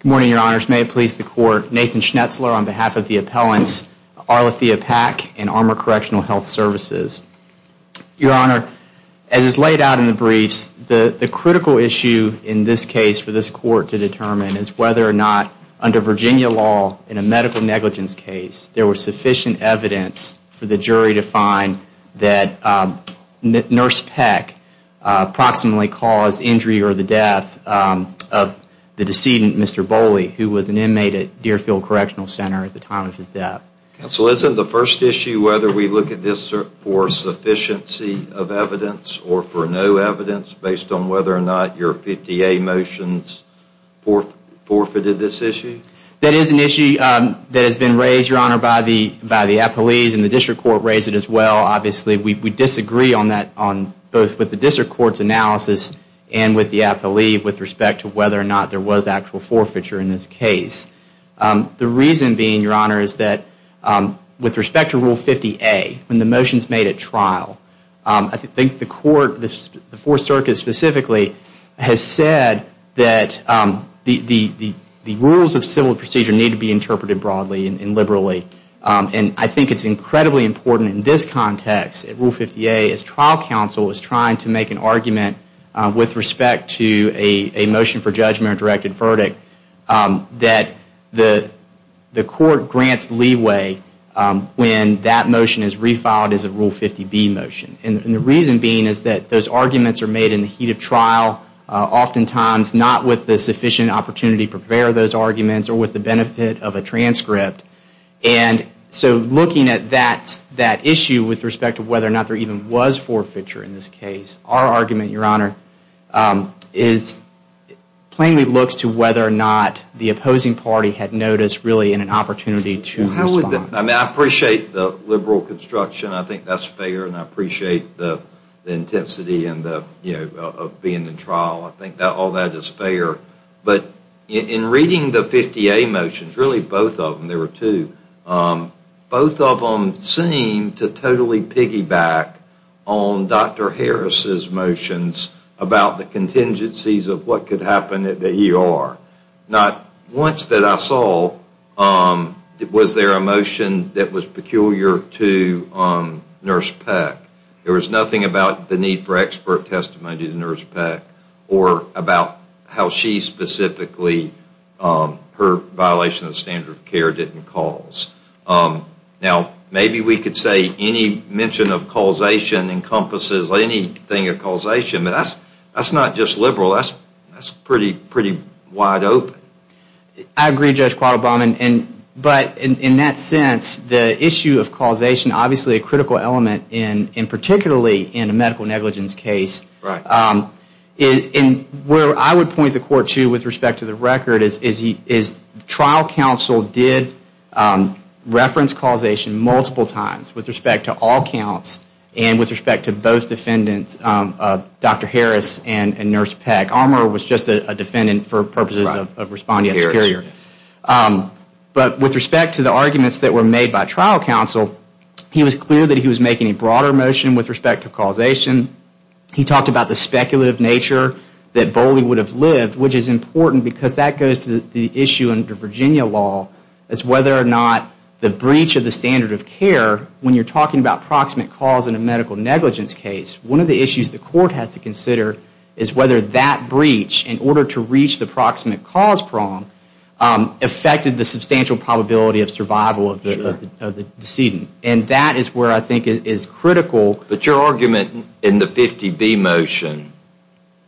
Good morning, Your Honors. May it please the Court, Nathan Schnetzler on behalf of the appellants Arlethea Pack and Armor Correctional Health Services. Your Honor, as is laid out in the briefs, the critical issue in this case for this Court to determine is whether or not under Virginia law, in a medical negligence case, there was sufficient evidence for the jury to find that Nurse Pack approximately caused injury or the death of the decedent, Mr. Boley, who was an inmate at Deerfield Correctional Center at the time of his death. Counsel, isn't the first issue whether we look at this for sufficiency of evidence or for no evidence based on whether or not your 50A motions forfeited this issue? That is an issue that has been raised, Your Honor, by the appellees and the District Court raised it as well. Obviously, we disagree on that both with the District Court's analysis and with the appellee with respect to whether or not there was actual forfeiture in this case. The reason being, Your Honor, is that with respect to Rule 50A, when the motion is made at trial, I think the Court, the Fourth Circuit specifically, has said that the rules of civil procedure need to be interpreted broadly and liberally. I think it is incredibly important in this context, Rule 50A, as trial counsel is trying to make an argument with respect to a motion for judgment or directed verdict, that the Court grants leeway when that motion is refiled as a Rule 50B motion. The reason being is that those arguments are made in the heat of trial, oftentimes not with the sufficient opportunity to prepare those arguments or with the benefit of a transcript. So looking at that issue with respect to whether or not there even was forfeiture in this case, our argument, Your Honor, plainly looks to whether or not the opposing party had noticed really an opportunity to respond. I appreciate the liberal construction. I think that's fair and I appreciate the intensity of being in trial. I think all that is fair. But in reading the 50A motions, really both of them, there were two, both of them seem to totally piggyback on Dr. Harris's motions about the contingencies of what could happen at the ER. Not once that I saw was there a motion that was peculiar to Nurse Peck. There was nothing about the need for expert testimony to Nurse Peck or about how she specifically, her violation of the standard of care didn't cause. Now maybe we could say any mention of causation encompasses anything of causation. That's not just liberal. That's pretty wide open. I agree, Judge Quattlebaum. But in that sense, the issue of causation, obviously a critical element, and particularly in a medical negligence case. Right. Where I would point the court to with respect to the record is trial counsel did reference causation multiple times with respect to all counts and with respect to both defendants, Dr. Harris and Nurse Peck. Armour was just a defendant for purposes of responding to superior. But with respect to the arguments that were made by trial counsel, he was clear that he was making a broader motion with respect to causation. He talked about the speculative nature that Boley would have lived, which is important because that goes to the issue under Virginia law as whether or not the breach of the standard of care, when you're talking about proximate cause in a medical negligence case, one of the issues the court has to consider is whether that breach, in order to reach the proximate cause prong, affected the substantial probability of survival of the decedent. And that is where I think it is critical. But your argument in the 50B motion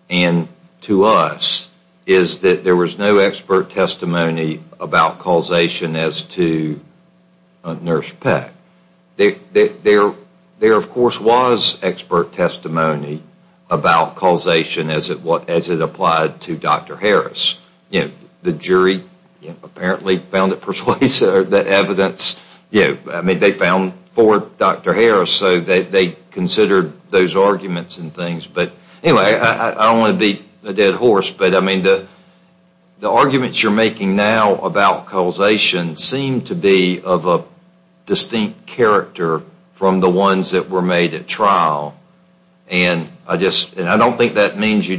and to us is that there was no expert testimony about causation as to Nurse Peck. There, of course, was expert testimony about causation as it applied to Dr. Harris. The jury apparently found it persuasive, that evidence. They found for Dr. Harris, so they considered those arguments and things. But anyway, I don't want to beat a dead horse, but the arguments you're making now about causation seem to be of a distinct character from the ones that were made at trial. And I don't think that means you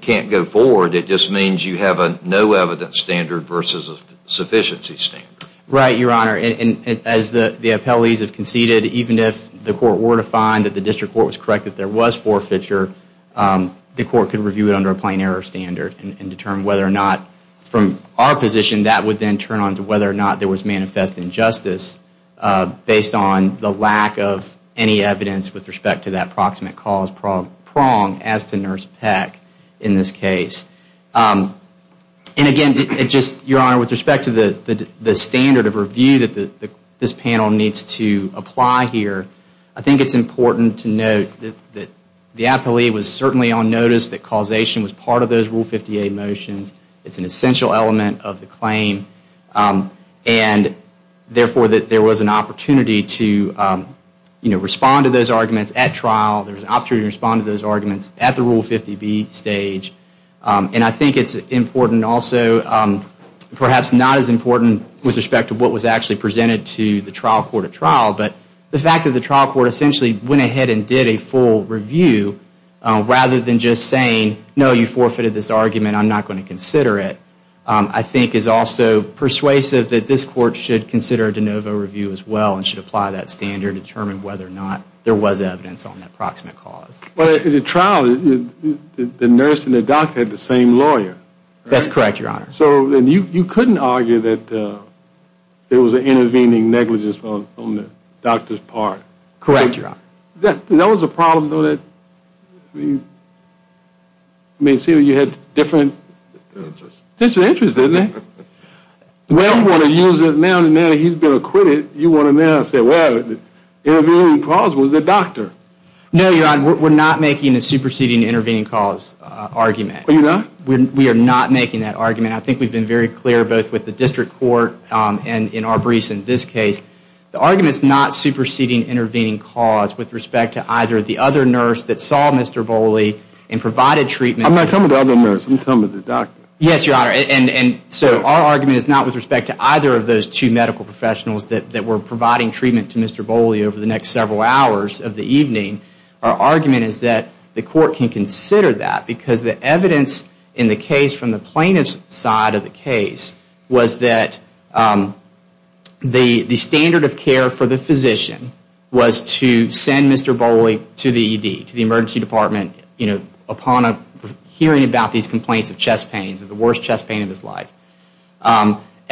can't go forward. It just means you have a no evidence standard versus a sufficiency standard. Right, Your Honor. And as the appellees have conceded, even if the court were to find that the district court was correct that there was forfeiture, the court could review it under a plain error standard and determine whether or not, from our position, that would then turn on to whether or not there was manifest injustice, based on the lack of any evidence with respect to that proximate cause prong as to Nurse Peck in this case. And again, Your Honor, with respect to the standard of review that this panel needs to apply here, I think it's important to note that the appellee was certainly on notice that causation was part of those Rule 50A motions. It's an essential element of the claim. And therefore, there was an opportunity to respond to those arguments at trial. There was an opportunity to respond to those arguments at the Rule 50B stage. And I think it's important also, perhaps not as important with respect to what was actually presented to the trial court at trial, but the fact that the trial court essentially went ahead and did a full review rather than just saying, no, you forfeited this argument, I'm not going to consider it, I think is also persuasive that this court should consider a de novo review as well and should apply that standard to determine whether or not there was evidence on that proximate cause. But at the trial, the nurse and the doctor had the same lawyer. That's correct, Your Honor. So you couldn't argue that there was an intervening negligence on the doctor's part. Correct, Your Honor. That was a problem, though. I mean, see, you had different interests, didn't you? Well, you want to use it now that he's been acquitted. You want to now say, well, the intervening cause was the doctor. No, Your Honor, we're not making a superseding intervening cause argument. Are you not? We are not making that argument. I think we've been very clear both with the district court and in our briefs in this case. The argument is not superseding intervening cause with respect to either the other nurse that saw Mr. Boley and provided treatment. I'm not talking about the other nurse. I'm talking about the doctor. Yes, Your Honor. And so our argument is not with respect to either of those two medical professionals that were providing treatment to Mr. Boley over the next several hours of the evening. Our argument is that the court can consider that because the evidence in the case from the plaintiff's side of the case was that the standard of care for the physician was to send Mr. Boley to the ED, to the emergency department, you know, upon hearing about these complaints of chest pains, of the worst chest pain of his life.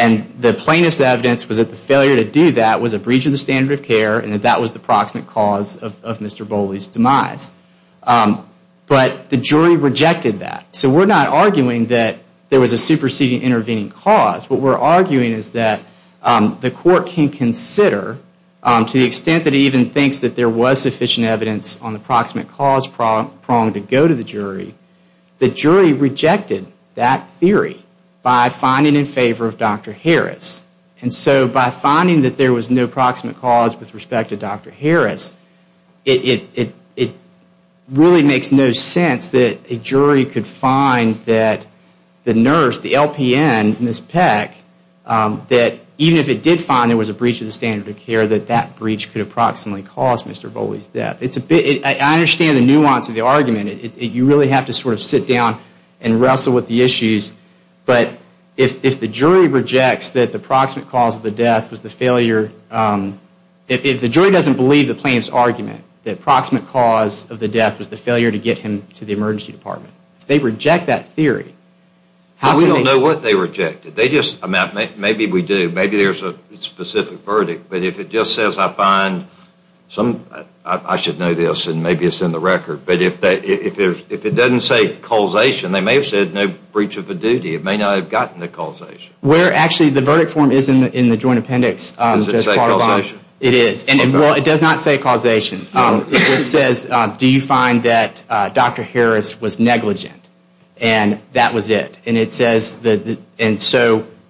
And the plaintiff's evidence was that the failure to do that was a breach of the standard of care and that that was the proximate cause of Mr. Boley's demise. But the jury rejected that. So we're not arguing that there was a superseding intervening cause. What we're arguing is that the court can consider, to the extent that it even thinks that there was sufficient evidence on the proximate cause prong to go to the jury, the jury rejected that theory by finding in favor of Dr. Harris. And so by finding that there was no proximate cause with respect to Dr. Harris, it really makes no sense that a jury could find that the nurse, the LPN, Ms. Peck, that even if it did find there was a breach of the standard of care, that that breach could approximately cause Mr. Boley's death. I understand the nuance of the argument. You really have to sort of sit down and wrestle with the issues. But if the jury rejects that the proximate cause of the death was the failure, if the jury doesn't believe the plaintiff's argument that the proximate cause of the death was the failure to get him to the emergency department, they reject that theory. We don't know what they rejected. Maybe we do. Maybe there's a specific verdict. But if it just says I find some, I should know this and maybe it's in the record, but if it doesn't say causation, they may have said no breach of a duty. It may not have gotten the causation. Actually the verdict form is in the joint appendix. Does it say causation? It says do you find that Dr. Harris was negligent? And that was it.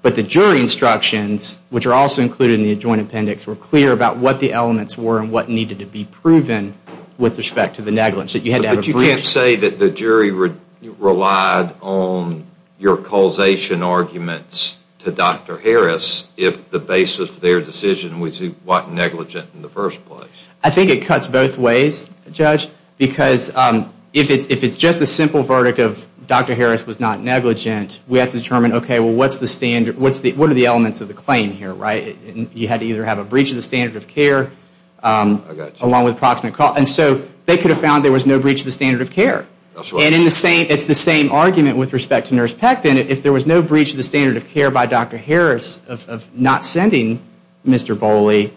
But the jury instructions, which are also included in the joint appendix, were clear about what the elements were and what needed to be proven with respect to the negligence. But you can't say that the jury relied on your causation arguments to Dr. Harris if the basis of their decision was he wasn't negligent in the first place. I think it cuts both ways, Judge. Because if it's just a simple verdict of Dr. Harris was not negligent, we have to determine what are the elements of the claim here. You had to either have a breach of the standard of care along with proximate cause. And so they could have found there was no breach of the standard of care. And it's the same argument with respect to Nurse Peck. If there was no breach of the standard of care by Dr. Harris of not sending Mr. Boley,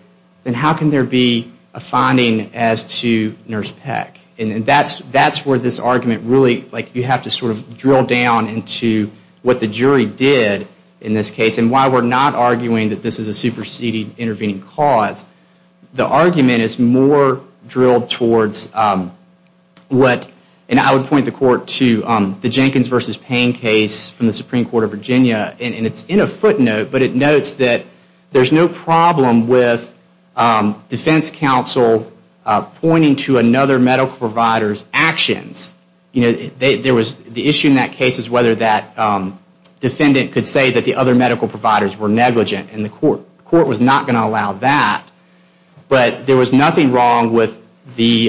then how can there be a finding as to Nurse Peck? And that's where this argument really, like you have to sort of drill down into what the jury did in this case and why we're not arguing that this is a superseding intervening cause. The argument is more drilled towards what, and I would point the court to the Jenkins v. Payne case from the Supreme Court of Virginia, and it's in a footnote, but it notes that there's no problem with defense counsel pointing to another medical provider's actions. The issue in that case is whether that defendant could say that the other medical providers were negligent. And the court was not going to allow that. But there was nothing wrong with the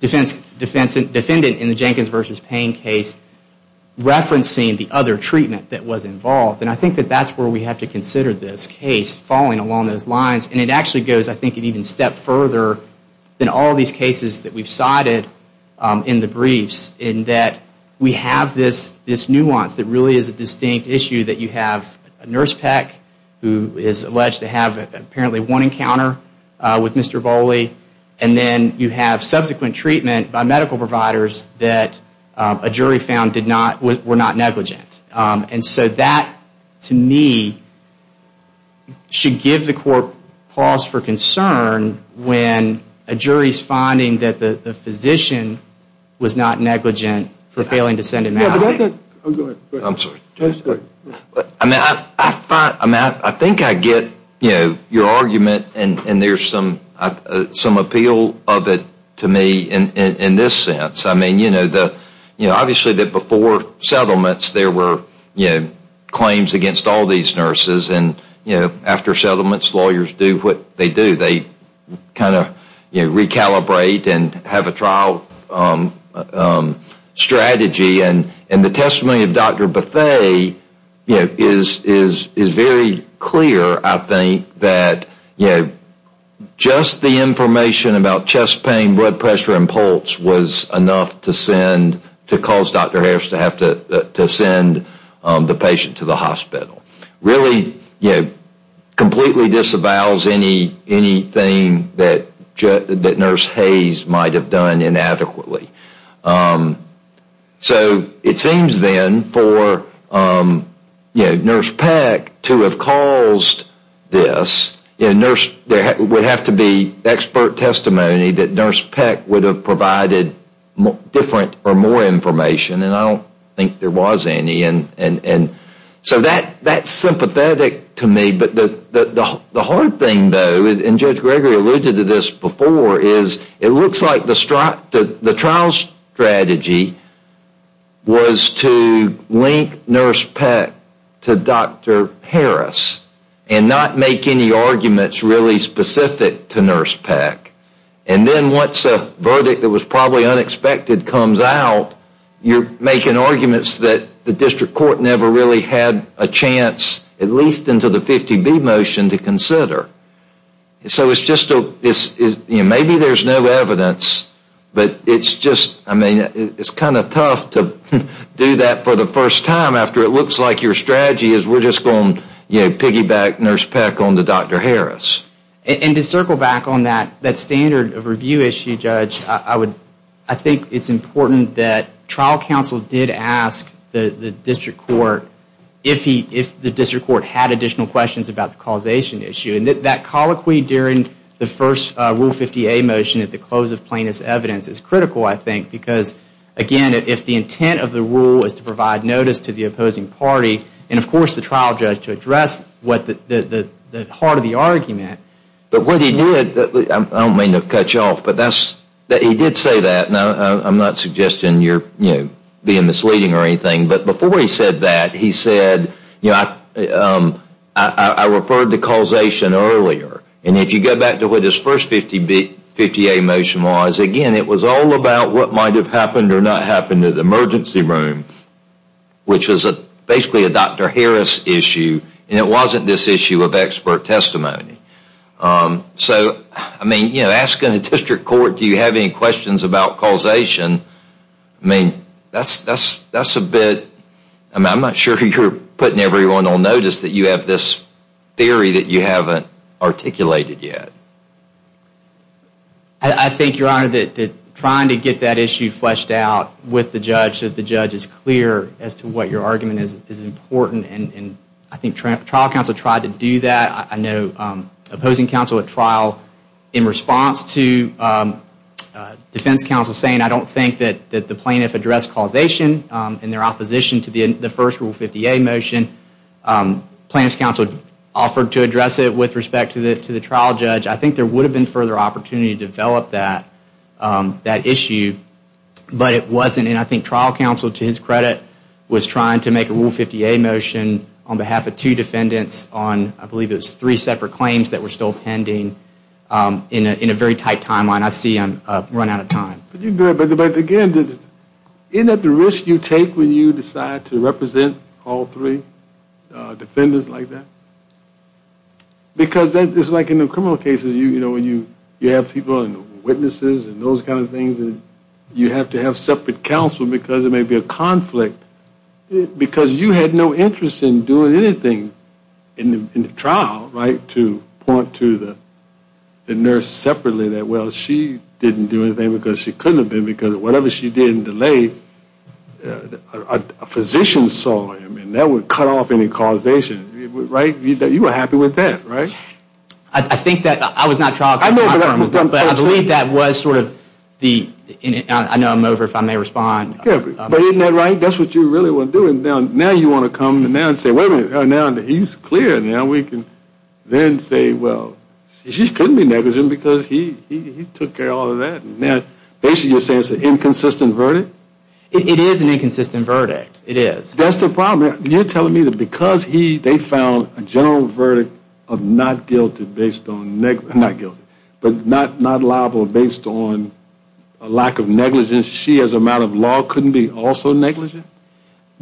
defendant in the Jenkins v. Payne case referencing the other treatment that was involved. And I think that that's where we have to consider this case, falling along those lines. And it actually goes, I think, an even step further than all these cases that we've cited in the briefs in that we have this nuance that really is a distinct issue that you have Nurse Peck, who is alleged to have apparently one encounter with Mr. Boley, and then you have subsequent treatment by medical providers that a jury found were not negligent. And so that, to me, should give the court pause for concern when a jury's finding that the physician was not negligent for failing to send him out. I think I get your argument, and there's some appeal of it to me in this sense. Obviously, before settlements, there were claims against all these nurses. And after settlements, lawyers do what they do. They kind of recalibrate and have a trial strategy. And the testimony of Dr. Bethea is very clear, I think, that just the information about chest pain, blood pressure and pulse was enough to send, to cause Dr. Harris to have to send the patient to the hospital. Really completely disavows anything that Nurse Hayes might have done inadequately. So it seems then for Nurse Peck to have caused this, there would have to be expert testimony that Nurse Peck would have provided different or more information, and I don't think there was any. So that's sympathetic to me. But the hard thing, though, and Judge Gregory alluded to this before, is it looks like the trial strategy was to link Nurse Peck to Dr. Harris and not make any arguments really specific to Nurse Peck. And then once a verdict that was probably unexpected comes out, you're making arguments that the district court never really had a chance, at least into the 50B motion, to consider. So maybe there's no evidence, but it's kind of tough to do that for the first time after it looks like your strategy is we're just going to piggyback Nurse Peck onto Dr. Harris. And to circle back on that standard of review issue, Judge, I think it's important that trial counsel did ask the district court if the district court had additional questions about the causation issue. And that colloquy during the first Rule 50A motion at the close of plaintiff's evidence is critical, I think, because, again, if the intent of the rule is to provide notice to the opposing party, and of course the trial judge to address the heart of the argument. But what he did, I don't mean to cut you off, but he did say that, and I'm not suggesting you're being misleading or anything, but before he said that, he said, you know, I referred to causation earlier. And if you go back to what his first 50A motion was, again, it was all about what might have happened or not happened in the emergency room, which was basically a Dr. Harris issue, and it wasn't this issue of expert testimony. So, I mean, you know, asking the district court, do you have any questions about causation, I mean, that's a bit, I mean, I'm not sure you're putting everyone on notice that you have this theory that you haven't articulated yet. I think, Your Honor, that trying to get that issue fleshed out with the judge, that the judge is clear as to what your argument is, is important, and I think trial counsel tried to do that. I know opposing counsel at trial in response to defense counsel saying, I don't think that the plaintiff addressed causation in their opposition to the first Rule 50A motion. Plaintiff's counsel offered to address it with respect to the trial judge. I think there would have been further opportunity to develop that issue, but it wasn't, and I think trial counsel, to his credit, was trying to make a Rule 50A motion on behalf of two defendants on, I believe it was three separate claims that were still pending, in a very tight timeline. I see I've run out of time. But, again, isn't that the risk you take when you decide to represent all three defendants like that? Because it's like in the criminal cases, you know, when you have people, witnesses and those kind of things, and you have to have separate counsel because there may be a conflict. Because you had no interest in doing anything in the trial, right, to point to the nurse separately that, well, she didn't do anything because she couldn't have been, because whatever she did in the late, a physician saw him, and that would cut off any causation, right? You were happy with that, right? I think that, I was not trial counsel, but I believe that was sort of the, I know I'm over if I may respond. Yeah, but isn't that right? That's what you really want to do, and now you want to come and say, wait a minute, now that he's clear, now we can then say, well, she couldn't be negligent because he took care of all of that. Now, basically you're saying it's an inconsistent verdict? It is an inconsistent verdict. It is. That's the problem. You're telling me that because he, they found a general verdict of not guilty based on, a lack of negligence, she as a matter of law couldn't be also negligent?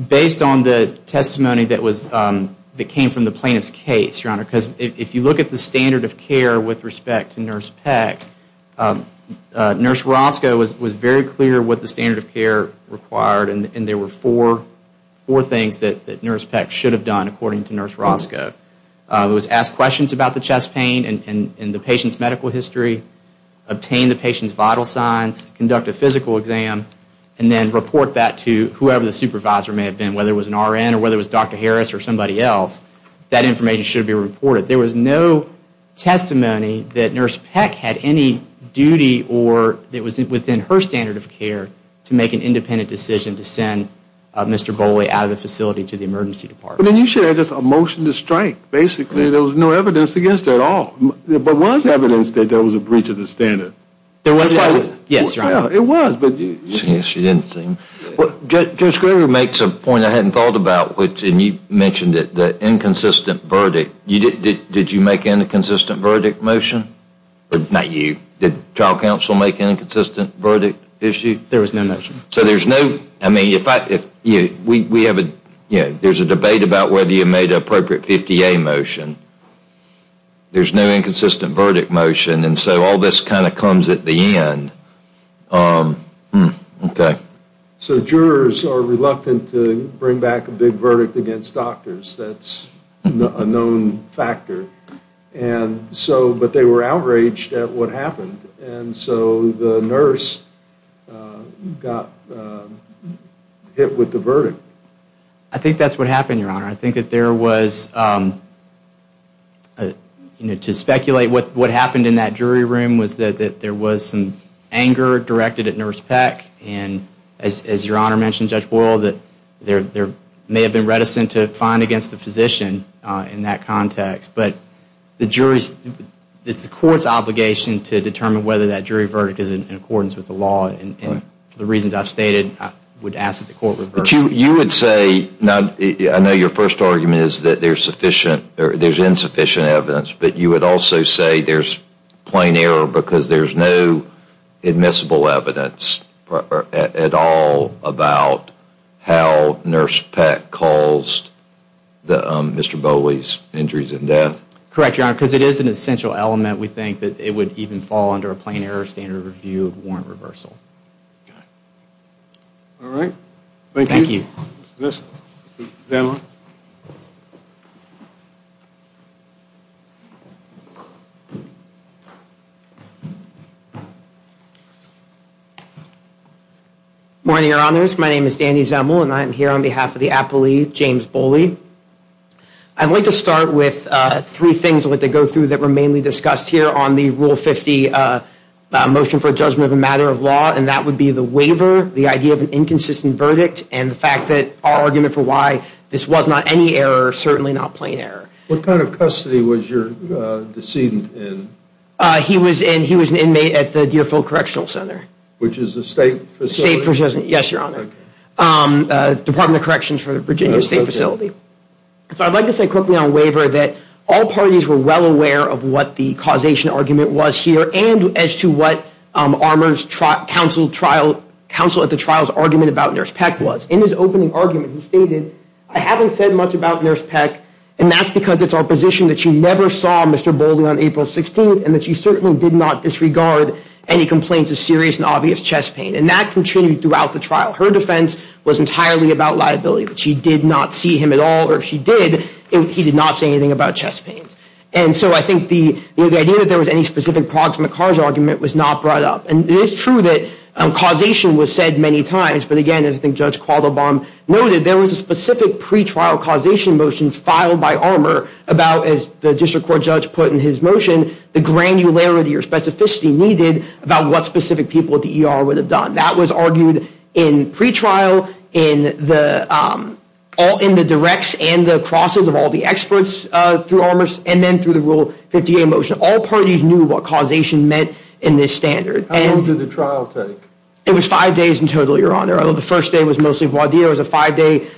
Based on the testimony that was, that came from the plaintiff's case, Your Honor, because if you look at the standard of care with respect to Nurse Peck, Nurse Roscoe was very clear what the standard of care required, and there were four things that Nurse Peck should have done according to Nurse Roscoe. It was ask questions about the chest pain and the patient's medical history, obtain the patient's vital signs, conduct a physical exam, and then report that to whoever the supervisor may have been, whether it was an RN or whether it was Dr. Harris or somebody else. That information should be reported. There was no testimony that Nurse Peck had any duty or that was within her standard of care to make an independent decision to send Mr. Bowley out of the facility to the emergency department. But then you should have just a motion to strike. Basically there was no evidence against her at all. There was evidence that there was a breach of the standard. There was evidence. Yes, Your Honor. It was. She didn't seem. Judge Graber makes a point I hadn't thought about, and you mentioned it, the inconsistent verdict. Did you make an inconsistent verdict motion? Not you. Did trial counsel make an inconsistent verdict issue? There was no motion. So there's no, I mean, we have a, you know, there's a debate about whether you made an appropriate 50A motion. There's no inconsistent verdict motion, and so all this kind of comes at the end. Okay. So jurors are reluctant to bring back a big verdict against doctors. That's a known factor. And so, but they were outraged at what happened. And so the nurse got hit with the verdict. I think that's what happened, Your Honor. I think that there was, you know, to speculate what happened in that jury room was that there was some anger directed at Nurse Peck. And as Your Honor mentioned, Judge Worrell, that there may have been reticence to find against the physician in that context. But the jury's, it's the court's obligation to determine whether that jury verdict is in accordance with the law. And for the reasons I've stated, I would ask that the court reverse it. But you would say, I know your first argument is that there's insufficient evidence, but you would also say there's plain error because there's no admissible evidence at all about how Nurse Peck caused Mr. Bowley's injuries and death? Correct, Your Honor, because it is an essential element, we think, that it would even fall under a plain error standard review of warrant reversal. All right. Thank you. Mr. Zemel. Good morning, Your Honors. My name is Danny Zemel, and I am here on behalf of the appellee, James Bowley. I'd like to start with three things I'd like to go through that were mainly discussed here on the Rule 50 motion for judgment of a matter of law, and that would be the waiver, the idea of an inconsistent verdict, and the fact that our argument for why this was not any error, certainly not plain error. What kind of custody was your decedent in? He was an inmate at the Deerfield Correctional Center. Which is a state facility? State facility, yes, Your Honor. Department of Corrections for the Virginia State Facility. So I'd like to say quickly on waiver that all parties were well aware of what the causation argument was here and as to what Armour's counsel at the trial's argument about Nurse Peck was. In his opening argument, he stated, I haven't said much about Nurse Peck, and that's because it's our position that she never saw Mr. Bowley on April 16th and that she certainly did not disregard any complaints of serious and obvious chest pain. And that continued throughout the trial. Her defense was entirely about liability, but she did not see him at all, or if she did, he did not say anything about chest pains. And so I think the idea that there was any specific proximate cause argument was not brought up. And it is true that causation was said many times, but again, as I think Judge Qualdebaum noted, there was a specific pretrial causation motion filed by Armour about, as the district court judge put in his motion, the granularity or specificity needed about what specific people at the ER would have done. That was argued in pretrial, in the directs and the crosses of all the experts through Armour, and then through the Rule 58 motion. All parties knew what causation meant in this standard. How long did the trial take? It was five days in total, Your Honor. The first day was mostly Valdia. It was a five-day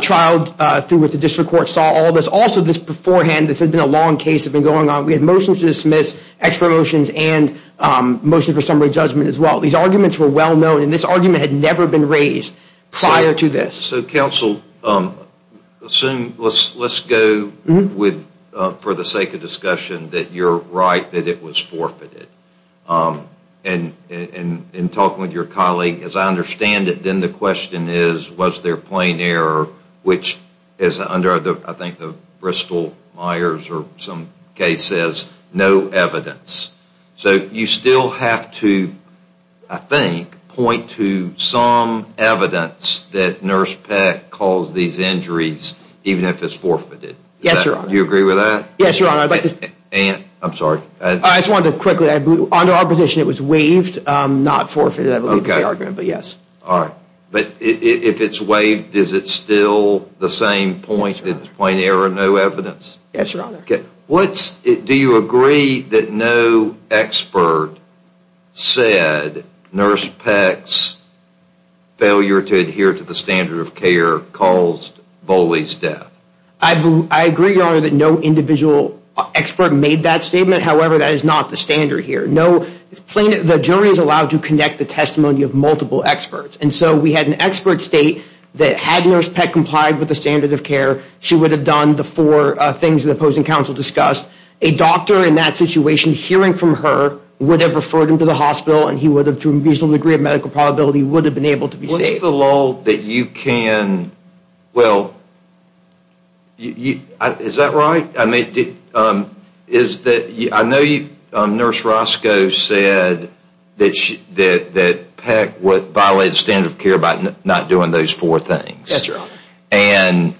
trial through which the district court saw all this. Also, this beforehand, this had been a long case that had been going on. We had motions to dismiss, extra motions, and motions for summary judgment as well. These arguments were well known, and this argument had never been raised prior to this. So, counsel, let's go with, for the sake of discussion, that you're right that it was forfeited. And in talking with your colleague, as I understand it, then the question is, was there plain error, which is under, I think, the Bristol-Myers or some case says, no evidence. So you still have to, I think, point to some evidence that Nurse Peck caused these injuries, even if it's forfeited. Yes, Your Honor. Do you agree with that? Yes, Your Honor. And, I'm sorry. I just wanted to quickly add, under our position, it was waived, not forfeited. Okay. But yes. All right. But if it's waived, is it still the same point that it's plain error, no evidence? Yes, Your Honor. Okay. Do you agree that no expert said Nurse Peck's failure to adhere to the standard of care caused Boley's death? I agree, Your Honor, that no individual expert made that statement. However, that is not the standard here. The jury is allowed to connect the testimony of multiple experts. And so we had an expert state that had Nurse Peck complied with the standard of care, she would have done the four things the opposing counsel discussed. A doctor in that situation, hearing from her, would have referred him to the hospital, and he would have, to a reasonable degree of medical probability, would have been able to be saved. What's the lull that you can, well, is that right? I know Nurse Roscoe said that Peck violated the standard of care by not doing those four things. That's right. And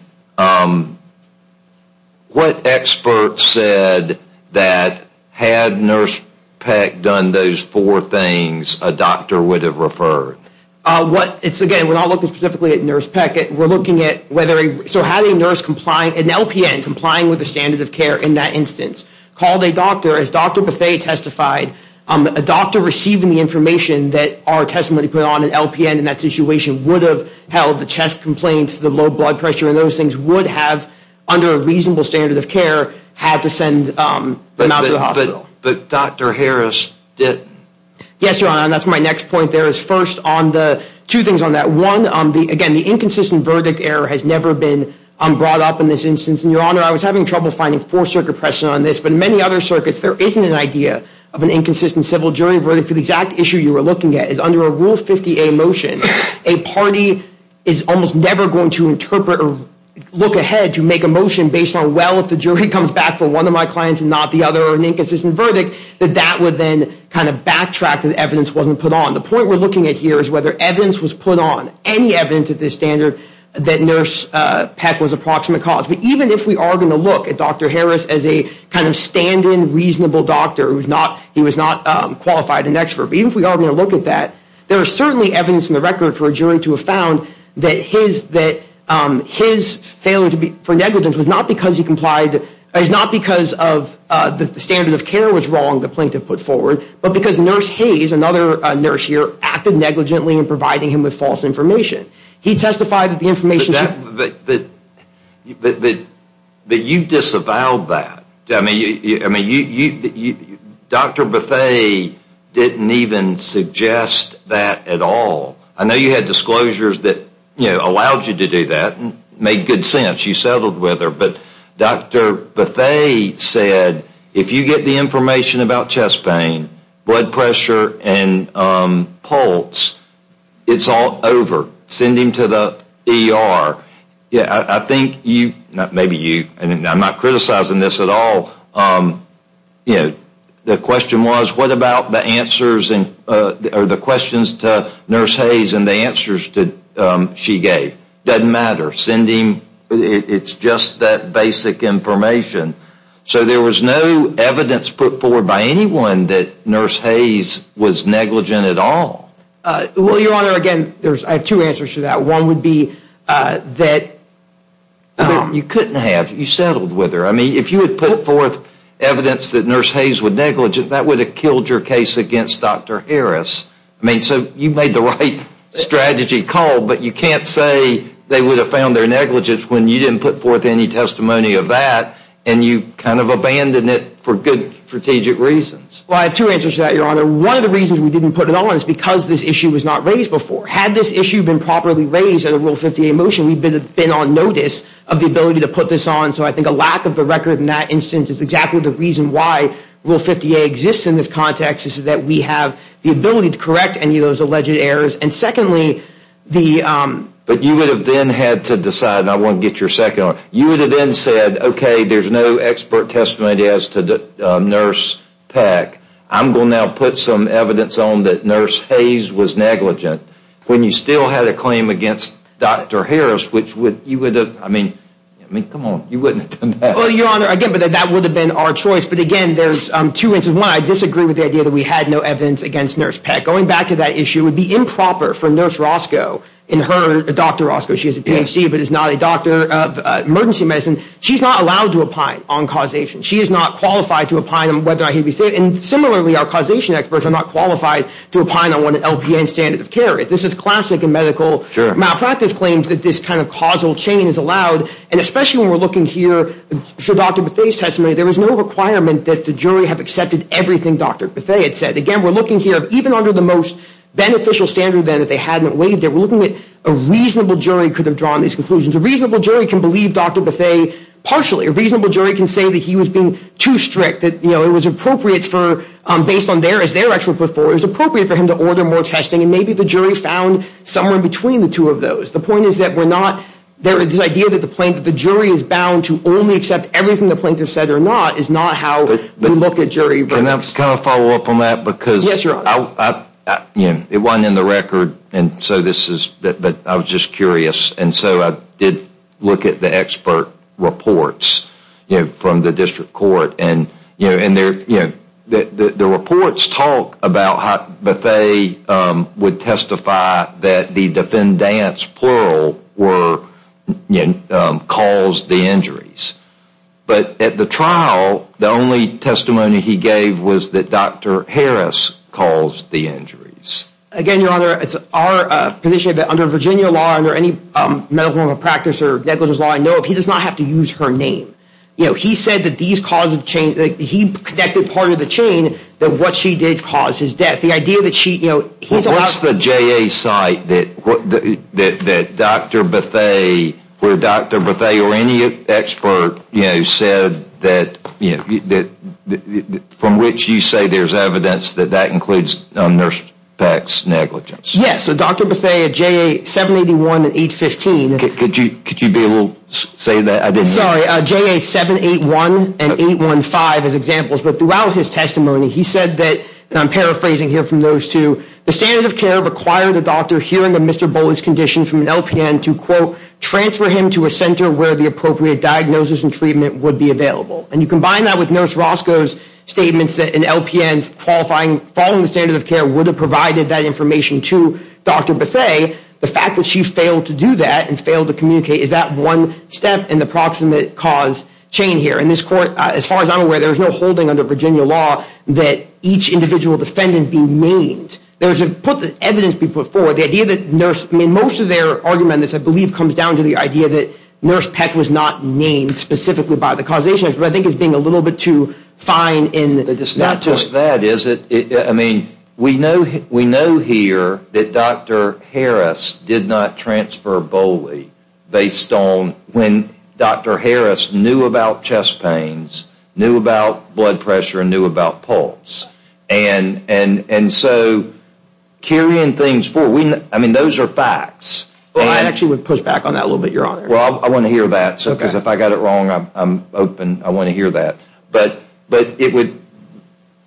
what expert said that had Nurse Peck done those four things, a doctor would have referred? Again, we're not looking specifically at Nurse Peck. We're looking at whether, so had a nurse compliant, an LPN complying with the standard of care in that instance, called a doctor, as Dr. Bethea testified, a doctor receiving the information that our testimony put on an LPN in that situation would have held the chest complaints, the low blood pressure, and those things would have, under a reasonable standard of care, had to send him out of the hospital. But Dr. Harris didn't. Yes, Your Honor, and that's my next point there is first on the, two things on that. One, again, the inconsistent verdict error has never been brought up in this instance. And, Your Honor, I was having trouble finding four-circuit precedent on this, but in many other circuits there isn't an idea of an inconsistent civil jury verdict. The exact issue you were looking at is under a Rule 50A motion, a party is almost never going to interpret or look ahead to make a motion based on, well, if the jury comes back for one of my clients and not the other, or an inconsistent verdict, that that would then kind of backtrack to the evidence wasn't put on. The point we're looking at here is whether evidence was put on, any evidence of this standard, that Nurse Peck was a proximate cause. But even if we are going to look at Dr. Harris as a kind of stand-in, reasonable doctor, he was not qualified an expert. But even if we are going to look at that, there is certainly evidence in the record for a jury to have found that his failure for negligence was not because he complied, was not because the standard of care was wrong, the plaintiff put forward, but because Nurse Hayes, another nurse here, acted negligently in providing him with false information. He testified that the information... But you disavowed that. I mean, Dr. Bethea didn't even suggest that at all. I know you had disclosures that allowed you to do that and made good sense. You settled with her. But Dr. Bethea said if you get the information about chest pain, blood pressure, and pulse, it's all over. Send him to the ER. I think you, maybe you, and I'm not criticizing this at all, the question was what about the answers or the questions to Nurse Hayes and the answers she gave. Doesn't matter. Send him. It's just that basic information. So there was no evidence put forward by anyone that Nurse Hayes was negligent at all. Well, Your Honor, again, I have two answers to that. One would be that... You couldn't have. You settled with her. I mean, if you had put forth evidence that Nurse Hayes was negligent, that would have killed your case against Dr. Harris. I mean, so you made the right strategy call, but you can't say they would have found their negligence when you didn't put forth any testimony of that and you kind of abandoned it for good strategic reasons. Well, I have two answers to that, Your Honor. One of the reasons we didn't put it on is because this issue was not raised before. Had this issue been properly raised at a Rule 50A motion, we would have been on notice of the ability to put this on. So I think a lack of the record in that instance is exactly the reason why Rule 50A exists in this context, is that we have the ability to correct any of those alleged errors. And secondly, the... But you would have then had to decide, and I want to get your second on it, you would have then said, okay, there's no expert testimony as to Nurse Peck. I'm going to now put some evidence on that Nurse Hayes was negligent. When you still had a claim against Dr. Harris, which would... I mean, come on, you wouldn't have done that. Well, Your Honor, again, that would have been our choice. But again, there's two reasons. One, I disagree with the idea that we had no evidence against Nurse Peck. Going back to that issue, it would be improper for Nurse Roscoe, and her, Dr. Roscoe, she has a Ph.D. but is not a doctor of emergency medicine, she's not allowed to opine on causation. She is not qualified to opine on whether or not he'd be safe. And similarly, our causation experts are not qualified to opine on what an LPN standard of care is. This is classic in medical malpractice claims that this kind of causal chain is allowed. And especially when we're looking here for Dr. Buffay's testimony, there was no requirement that the jury have accepted everything Dr. Buffay had said. Again, we're looking here, even under the most beneficial standard then that they hadn't waived, we're looking at a reasonable jury could have drawn these conclusions. A reasonable jury can believe Dr. Buffay partially. A reasonable jury can say that he was being too strict, that it was appropriate for, based on their expert report, it was appropriate for him to order more testing. And maybe the jury found somewhere between the two of those. The point is that we're not, the idea that the jury is bound to only accept everything the plaintiff said or not is not how we look at jury reports. Can I follow up on that? Yes, Your Honor. It wasn't in the record, but I was just curious. And so I did look at the expert reports from the district court. And the reports talk about how Buffay would testify that the defendants, plural, caused the injuries. But at the trial, the only testimony he gave was that Dr. Harris caused the injuries. Again, Your Honor, it's our position that under Virginia law or under any medical practice or negligence law, I know he does not have to use her name. He said that he connected part of the chain that what she did cause his death. Well, what's the JA site that Dr. Buffay or any expert said that from which you say there's evidence that that includes nurse tax negligence? Yes, so Dr. Buffay at JA 781 and 815. Could you be able to say that? Sorry, JA 781 and 815 as examples. But throughout his testimony, he said that, and I'm paraphrasing here from those two, the standard of care required the doctor hearing that Mr. Bowling's condition from an LPN to, quote, transfer him to a center where the appropriate diagnosis and treatment would be available. And you combine that with Nurse Roscoe's statements that an LPN following the standard of care would have provided that information to Dr. Buffay. The fact that she failed to do that and failed to communicate is that one step in the proximate cause chain here. And this court, as far as I'm aware, there's no holding under Virginia law that each individual defendant be named. There's evidence being put forward. Most of their argument, I believe, comes down to the idea that Nurse Peck was not named specifically by the causation. I think it's being a little bit too fine. It's not just that, is it? I mean, we know here that Dr. Harris did not transfer Bowling based on when Dr. Harris knew about chest pains, knew about blood pressure, and knew about pulse. And so carrying things forward, I mean, those are facts. Well, I actually would push back on that a little bit, Your Honor. Well, I want to hear that, because if I got it wrong, I'm open. I want to hear that. But it would,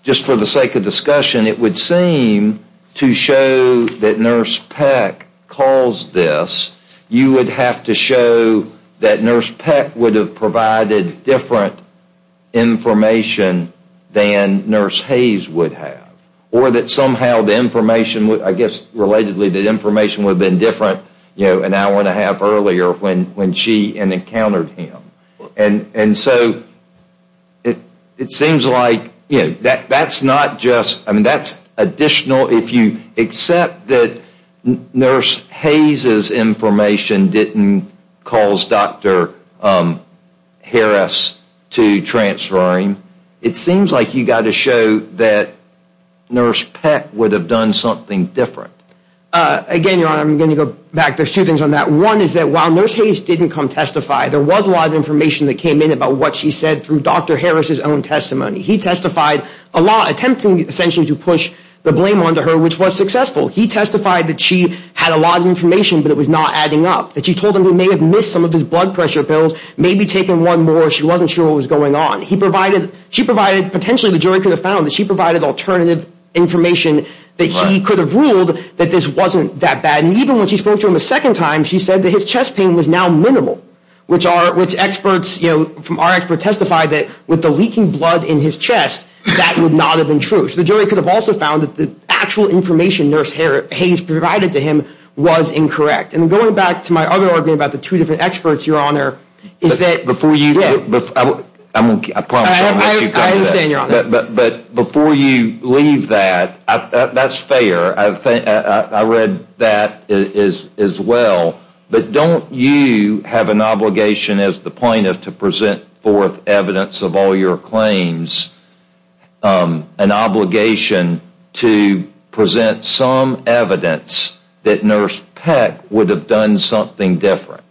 just for the sake of discussion, it would seem to show that Nurse Peck caused this. You would have to show that Nurse Peck would have provided different information than Nurse Hayes would have. Or that somehow the information, I guess relatedly, the information would have been different an hour and a half earlier when she encountered him. And so it seems like, you know, that's not just, I mean, that's additional. If you accept that Nurse Hayes' information didn't cause Dr. Harris to transfer him, it seems like you've got to show that Nurse Peck would have done something different. Again, Your Honor, I'm going to go back. There's two things on that. One is that while Nurse Hayes didn't come testify, there was a lot of information that came in about what she said through Dr. Harris' own testimony. He testified, attempting essentially to push the blame onto her, which was successful. He testified that she had a lot of information, but it was not adding up. That she told him he may have missed some of his blood pressure pills, maybe taken one more, she wasn't sure what was going on. She provided, potentially the jury could have found, she provided alternative information that he could have ruled that this wasn't that bad. And even when she spoke to him a second time, she said that his chest pain was now minimal. Which experts, you know, from our expert testified that with the leaking blood in his chest, that would not have been true. So the jury could have also found that the actual information Nurse Hayes provided to him was incorrect. And going back to my other argument about the two different experts, Your Honor, is that... I understand, Your Honor. But before you leave that, that's fair. I read that as well. But don't you have an obligation as the plaintiff to present forth evidence of all your claims, an obligation to present some evidence that Nurse Peck would have done something different?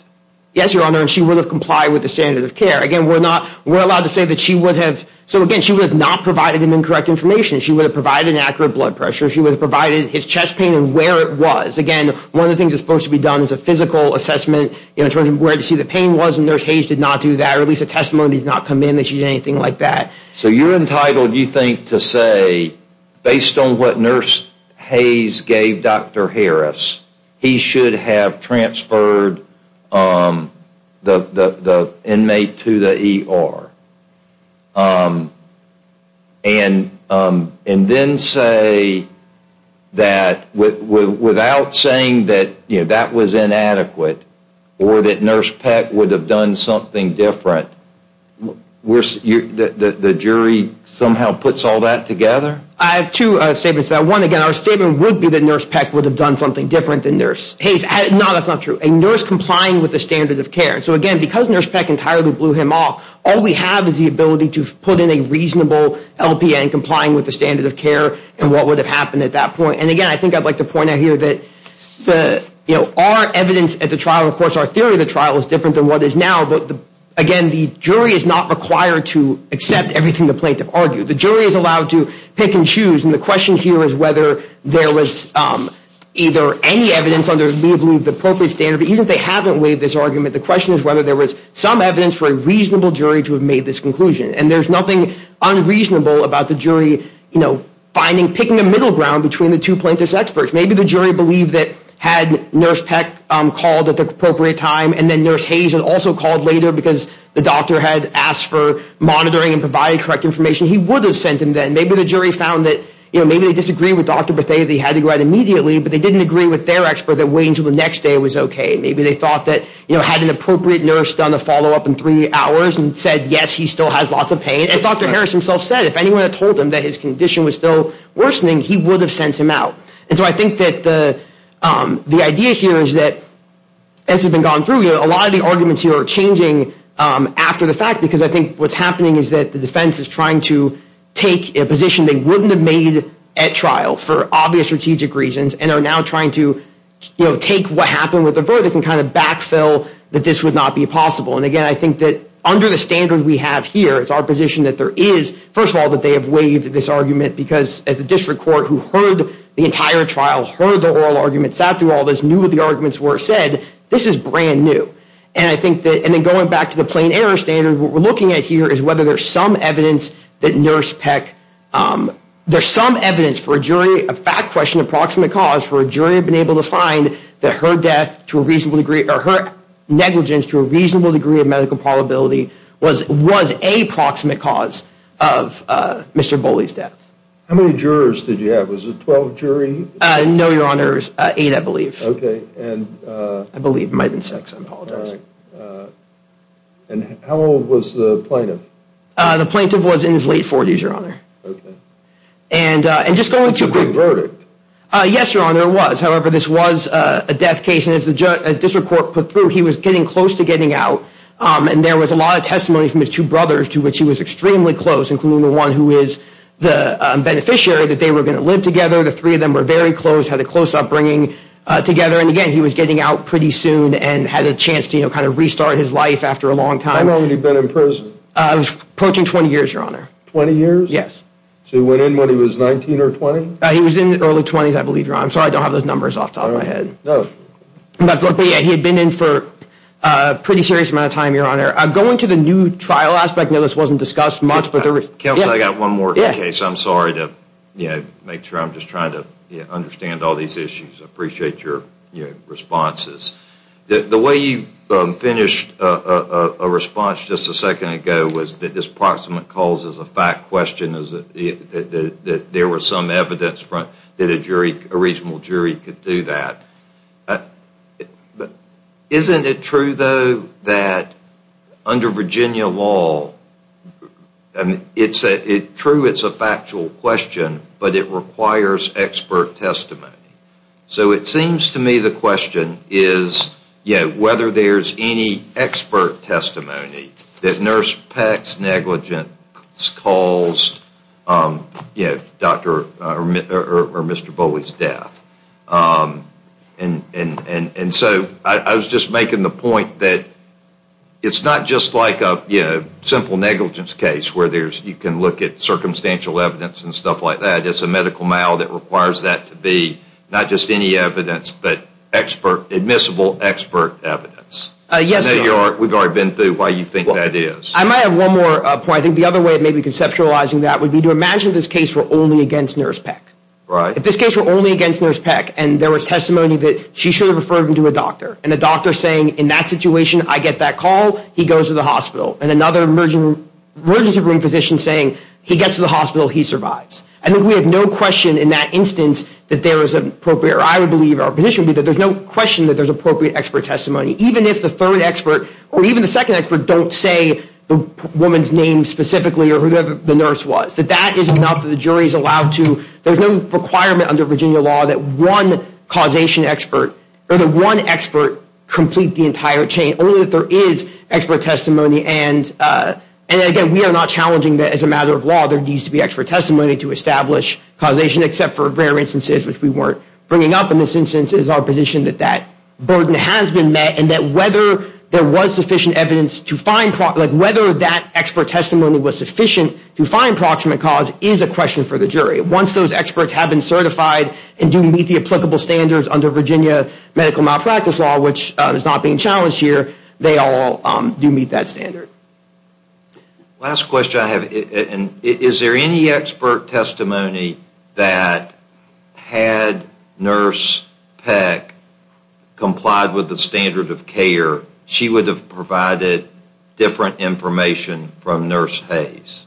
Yes, Your Honor, and she would have complied with the standard of care. Again, we're not, we're allowed to say that she would have, so again, she would have not provided him incorrect information. She would have provided an accurate blood pressure. She would have provided his chest pain and where it was. Again, one of the things that's supposed to be done is a physical assessment in terms of where to see the pain was. And Nurse Hayes did not do that, or at least a testimony did not come in that she did anything like that. So you're entitled, you think, to say, based on what Nurse Hayes gave Dr. Harris, he should have transferred the inmate to the ER. And then say that without saying that that was inadequate or that Nurse Peck would have done something different, the jury somehow puts all that together? I have two statements to that. One, again, our statement would be that Nurse Peck would have done something different than Nurse Hayes. No, that's not true. A nurse complying with the standard of care. So again, because Nurse Peck entirely blew him off, all we have is the ability to put in a reasonable LPN, complying with the standard of care, and what would have happened at that point. And again, I think I'd like to point out here that, you know, our evidence at the trial, of course, our theory of the trial is different than what is now. But again, the jury is not required to accept everything the plaintiff argued. The jury is allowed to pick and choose. And the question here is whether there was either any evidence under the appropriate standard. Even if they haven't waived this argument, the question is whether there was some evidence for a reasonable jury to have made this conclusion. And there's nothing unreasonable about the jury, you know, picking a middle ground between the two plaintiff's experts. Maybe the jury believed that had Nurse Peck called at the appropriate time, and then Nurse Hayes had also called later because the doctor had asked for monitoring and provided correct information, he would have sent him then. Maybe the jury found that, you know, maybe they disagreed with Dr. Bethea that he had to go out immediately, but they didn't agree with their expert that waiting until the next day was okay. Maybe they thought that, you know, had an appropriate nurse done a follow-up in three hours and said, yes, he still has lots of pain. As Dr. Harris himself said, if anyone had told him that his condition was still worsening, he would have sent him out. And so I think that the idea here is that, as has been gone through, you know, a lot of the arguments here are changing after the fact, because I think what's happening is that the defense is trying to take a position they wouldn't have made at trial for obvious strategic reasons and are now trying to, you know, take what happened with the verdict and kind of backfill that this would not be possible. And, again, I think that under the standard we have here, it's our position that there is, first of all, that they have waived this argument because as a district court who heard the entire trial, heard the oral arguments, sat through all this, knew what the arguments were, said, this is brand new. And I think that, and then going back to the plain error standard, what we're looking at here is whether there's some evidence that Nurse Peck, there's some evidence for a jury, a fact question, a proximate cause for a jury have been able to find that her death to a reasonable degree, or her negligence to a reasonable degree of medical probability was a proximate cause of Mr. Bowley's death. How many jurors did you have? Was it 12 jury? No, Your Honors, eight, I believe. I believe, it might have been six, I apologize. And how old was the plaintiff? The plaintiff was in his late 40s, Your Honor. Okay. And just going too quickly. Yes, Your Honor, it was. However, this was a death case, and as the district court put through, he was getting close to getting out. And there was a lot of testimony from his two brothers to which he was extremely close, including the one who is the beneficiary that they were going to live together. The three of them were very close, had a close upbringing together. And again, he was getting out pretty soon and had a chance to kind of restart his life after a long time. How long had he been in prison? Approaching 20 years, Your Honor. 20 years? Yes. So he went in when he was 19 or 20? He was in his early 20s, I believe, Your Honor. I'm sorry I don't have those numbers off the top of my head. No. But he had been in for a pretty serious amount of time, Your Honor. Going to the new trial aspect, I know this wasn't discussed much, but there was... Counsel, I've got one more case. I'm sorry to make sure I'm just trying to understand all these issues. I appreciate your responses. The way you finished a response just a second ago was that this proximate cause is a fact question, that there was some evidence that a reasonable jury could do that. Isn't it true, though, that under Virginia law, it's true it's a factual question, but it requires expert testimony? So it seems to me the question is whether there's any expert testimony that Nurse Peck's negligence caused Dr. Bowley's death. And so I was just making the point that it's not just like a simple negligence case where you can look at circumstantial evidence and stuff like that. It's a medical mal that requires that to be not just any evidence, but admissible expert evidence. Yes, Your Honor. We've already been through why you think that is. I might have one more point. I think the other way of maybe conceptualizing that would be to imagine this case were only against Nurse Peck. If this case were only against Nurse Peck and there was testimony that she should have referred him to a doctor, and a doctor saying in that situation I get that call, he goes to the hospital, and another emergency room physician saying he gets to the hospital, he survives. I think we have no question in that instance that there is an appropriate, or I would believe our position would be that there's no question that there's appropriate expert testimony, even if the third expert or even the second expert don't say the woman's name specifically or whoever the nurse was, that that is enough, that the jury is allowed to. There's no requirement under Virginia law that one causation expert or that one expert complete the entire chain, only that there is expert testimony. And, again, we are not challenging that as a matter of law there needs to be expert testimony to establish causation, except for rare instances which we weren't bringing up. In this instance it is our position that that burden has been met, and that whether there was sufficient evidence to find, like whether that expert testimony was sufficient to find proximate cause is a question for the jury. Once those experts have been certified and do meet the applicable standards under Virginia medical malpractice law, which is not being challenged here, they all do meet that standard. Last question I have. Is there any expert testimony that had Nurse Peck complied with the standard of care, she would have provided different information from Nurse Hayes?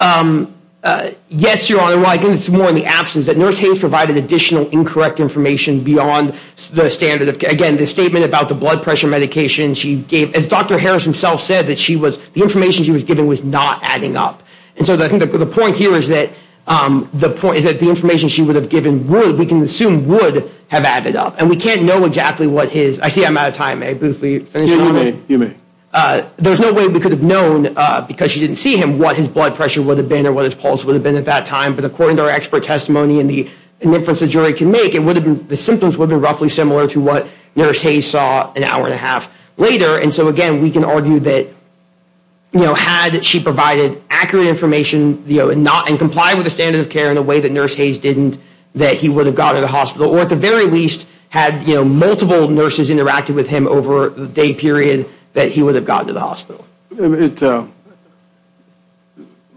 Yes, Your Honor. Well, I think it's more in the absence that Nurse Hayes provided additional incorrect information beyond the standard of care. Again, the statement about the blood pressure medication she gave, as Dr. Harris himself said, the information she was given was not adding up. And so I think the point here is that the information she would have given would, we can assume, would have added up. And we can't know exactly what his, I see I'm out of time, may I briefly finish, Your Honor? You may. There's no way we could have known, because she didn't see him, what his blood pressure would have been or what his pulse would have been at that time. But according to our expert testimony and the inference the jury can make, the symptoms would have been roughly similar to what Nurse Hayes saw an hour and a half later. And so, again, we can argue that, you know, had she provided accurate information, you know, and complied with the standard of care in a way that Nurse Hayes didn't, that he would have gotten to the hospital. Or at the very least, had, you know, multiple nurses interacted with him over the day period, that he would have gotten to the hospital.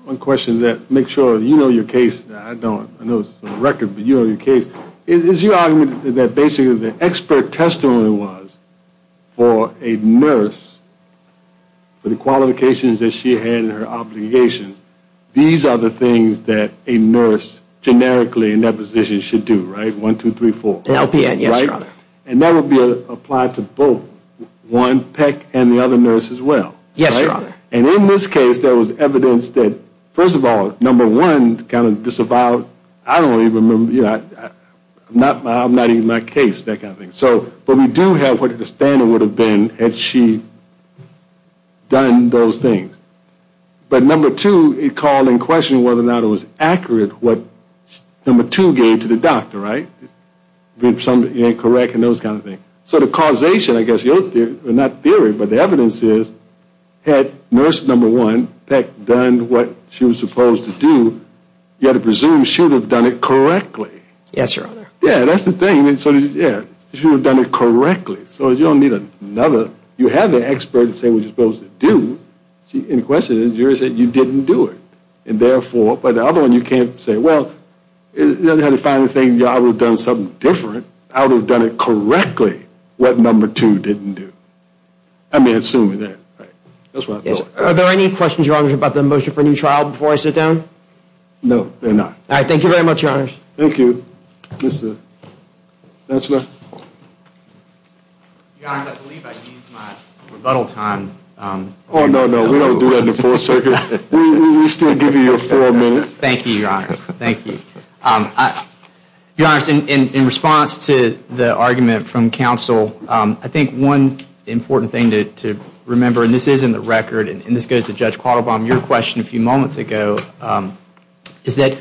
One question to make sure you know your case. I don't. I know it's a record, but you know your case. Is your argument that basically the expert testimony was for a nurse, for the qualifications that she had and her obligations, these are the things that a nurse generically in that position should do, right? One, two, three, four. LPN, yes, Your Honor. Right? And that would be applied to both one PEC and the other nurse as well. Yes, Your Honor. And in this case, there was evidence that, first of all, number one, kind of disavowed, I don't even remember, you know, I'm not even in my case, that kind of thing. So, but we do have what the standard would have been had she done those things. But number two, it called in question whether or not it was accurate what number two gave to the doctor, right? If something ain't correct and those kind of things. So the causation, I guess, not theory, but the evidence is, had nurse number one, had PEC done what she was supposed to do, you had to presume she would have done it correctly. Yes, Your Honor. Yeah, that's the thing. So, yeah, she would have done it correctly. So you don't need another, you have the expert to say what you're supposed to do. See, in question, the jury said you didn't do it. And therefore, by the other one, you can't say, well, it doesn't have to be the final thing, I would have done something different. I would have done it correctly what number two didn't do. I mean, assuming that, right? Are there any questions, Your Honor, about the motion for a new trial before I sit down? No, there are not. All right. Thank you very much, Your Honors. Thank you. Mr. Chancellor? Your Honor, I believe I used my rebuttal time. Oh, no, no. We don't do that in the Fourth Circuit. We still give you your four minutes. Thank you, Your Honor. Thank you. Your Honors, in response to the argument from counsel, I think one important thing to remember, and this is in the record, and this goes to Judge Quattlebaum, your question a few moments ago, is that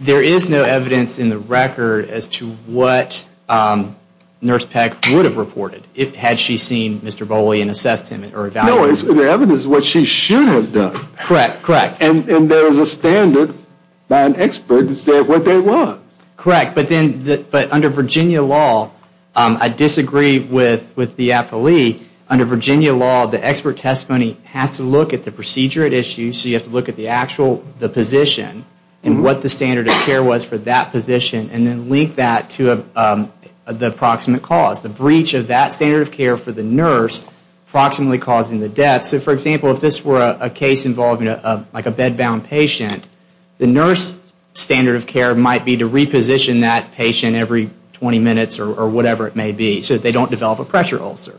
there is no evidence in the record as to what Nurse Peck would have reported had she seen Mr. Bowley and assessed him or evaluated him. No, the evidence is what she should have done. Correct, correct. And there is a standard by an expert to say what they want. Correct. But under Virginia law, I disagree with the appellee. Under Virginia law, the expert testimony has to look at the procedure at issue, so you have to look at the actual position and what the standard of care was for that position and then link that to the approximate cause, the breach of that standard of care for the nurse approximately causing the death. So, for example, if this were a case involving like a bed-bound patient, the nurse standard of care might be to reposition that patient every 20 minutes or whatever it may be so they don't develop a pressure ulcer.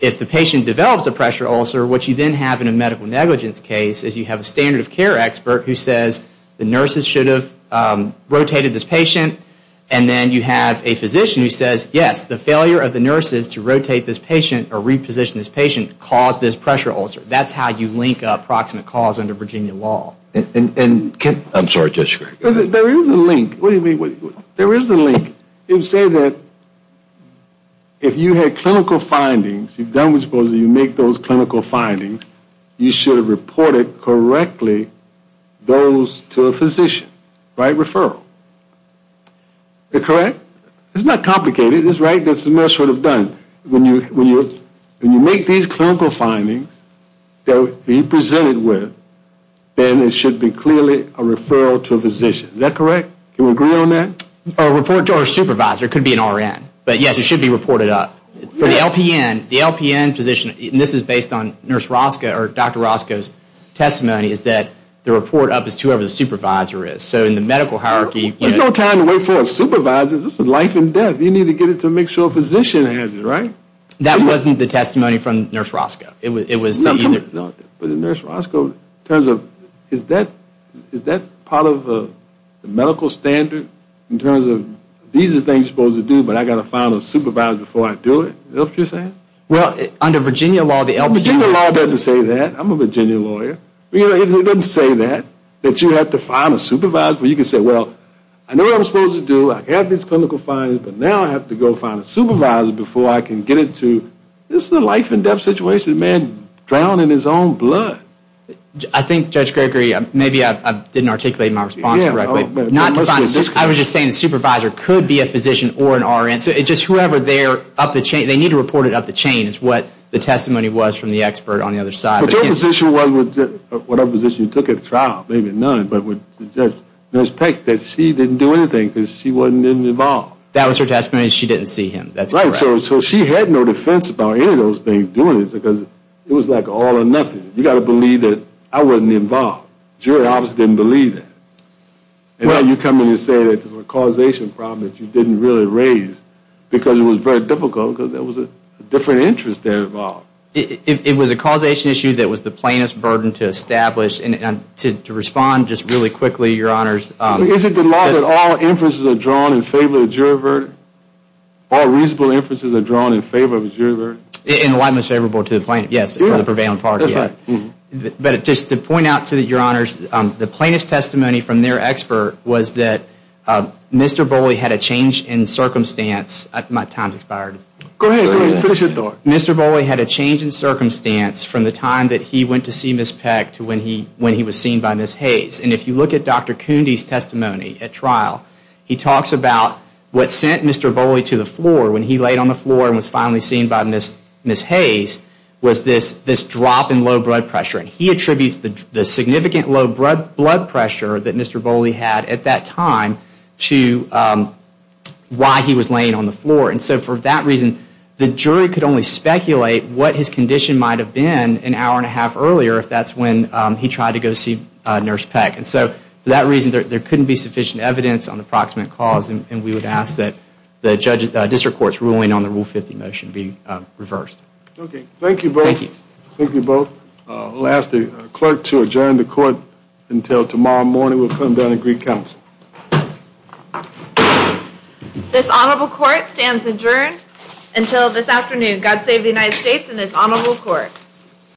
If the patient develops a pressure ulcer, what you then have in a medical negligence case is you have a standard of care expert who says the nurses should have rotated this patient and then you have a physician who says, yes, the failure of the nurses to rotate this patient or reposition this patient caused this pressure ulcer. That's how you link up approximate cause under Virginia law. I'm sorry, Judge Gregg. There is a link. What do you mean? There is a link. You say that if you had clinical findings, you've done what's supposed to, you make those clinical findings, you should have reported correctly those to a physician, write referral. Is that correct? It's not complicated. It's right that the nurse should have done. When you make these clinical findings that we presented with, then it should be clearly a referral to a physician. Is that correct? Can we agree on that? A report to our supervisor. It could be an RN. But, yes, it should be reported up. For the LPN, the LPN position, and this is based on Nurse Roscoe or Dr. Roscoe's testimony, is that the report up is to whoever the supervisor is. So in the medical hierarchy, There's no time to wait for a supervisor. This is life and death. You need to get it to make sure a physician has it, right? That wasn't the testimony from Nurse Roscoe. It was somebody. But Nurse Roscoe, in terms of, is that part of the medical standard in terms of, these are the things you're supposed to do, but I've got to find a supervisor before I do it? Is that what you're saying? Well, under Virginia law, the LPN. Virginia law doesn't say that. I'm a Virginia lawyer. It doesn't say that, that you have to find a supervisor. You can say, well, I know what I'm supposed to do. I have these clinical findings, but now I have to go find a supervisor before I can get it to, this is a life and death situation. A man drowned in his own blood. I think, Judge Gregory, maybe I didn't articulate my response correctly. I was just saying a supervisor could be a physician or an RN. So it's just whoever they're up the chain, they need to report it up the chain, is what the testimony was from the expert on the other side. But your position was, whatever position you took at the trial, maybe none, Judge Peck, that she didn't do anything because she wasn't involved. That was her testimony. She didn't see him. That's correct. So she had no defense about any of those things doing it because it was like all or nothing. You've got to believe that I wasn't involved. The jury obviously didn't believe that. And now you come in and say there's a causation problem that you didn't really raise because it was very difficult because there was a different interest there involved. It was a causation issue that was the plainest burden to establish. And to respond just really quickly, Your Honors. Is it the law that all inferences are drawn in favor of the jury verdict? All reasonable inferences are drawn in favor of the jury verdict? In the light most favorable to the plaintiff, yes. For the prevailing party, yes. But just to point out to Your Honors, the plaintiff's testimony from their expert was that Mr. Boley had a change in circumstance. My time's expired. Go ahead. Finish your thought. Mr. Boley had a change in circumstance from the time that he went to see Ms. Peck to when he was seen by Ms. Hayes. And if you look at Dr. Coondy's testimony at trial, he talks about what sent Mr. Boley to the floor when he laid on the floor and was finally seen by Ms. Hayes was this drop in low blood pressure. And he attributes the significant low blood pressure that Mr. Boley had at that time to why he was laying on the floor. And so for that reason, the jury could only speculate what his condition might have been an hour and a half earlier if that's when he tried to go see Nurse Peck. And so for that reason, there couldn't be sufficient evidence on the proximate cause. And we would ask that the district court's ruling on the Rule 50 motion be reversed. Okay. Thank you both. Thank you. Thank you both. We'll ask the clerk to adjourn the court until tomorrow morning. We'll come down and greet counsel. This honorable court stands adjourned until this afternoon. God save the United States and this honorable court.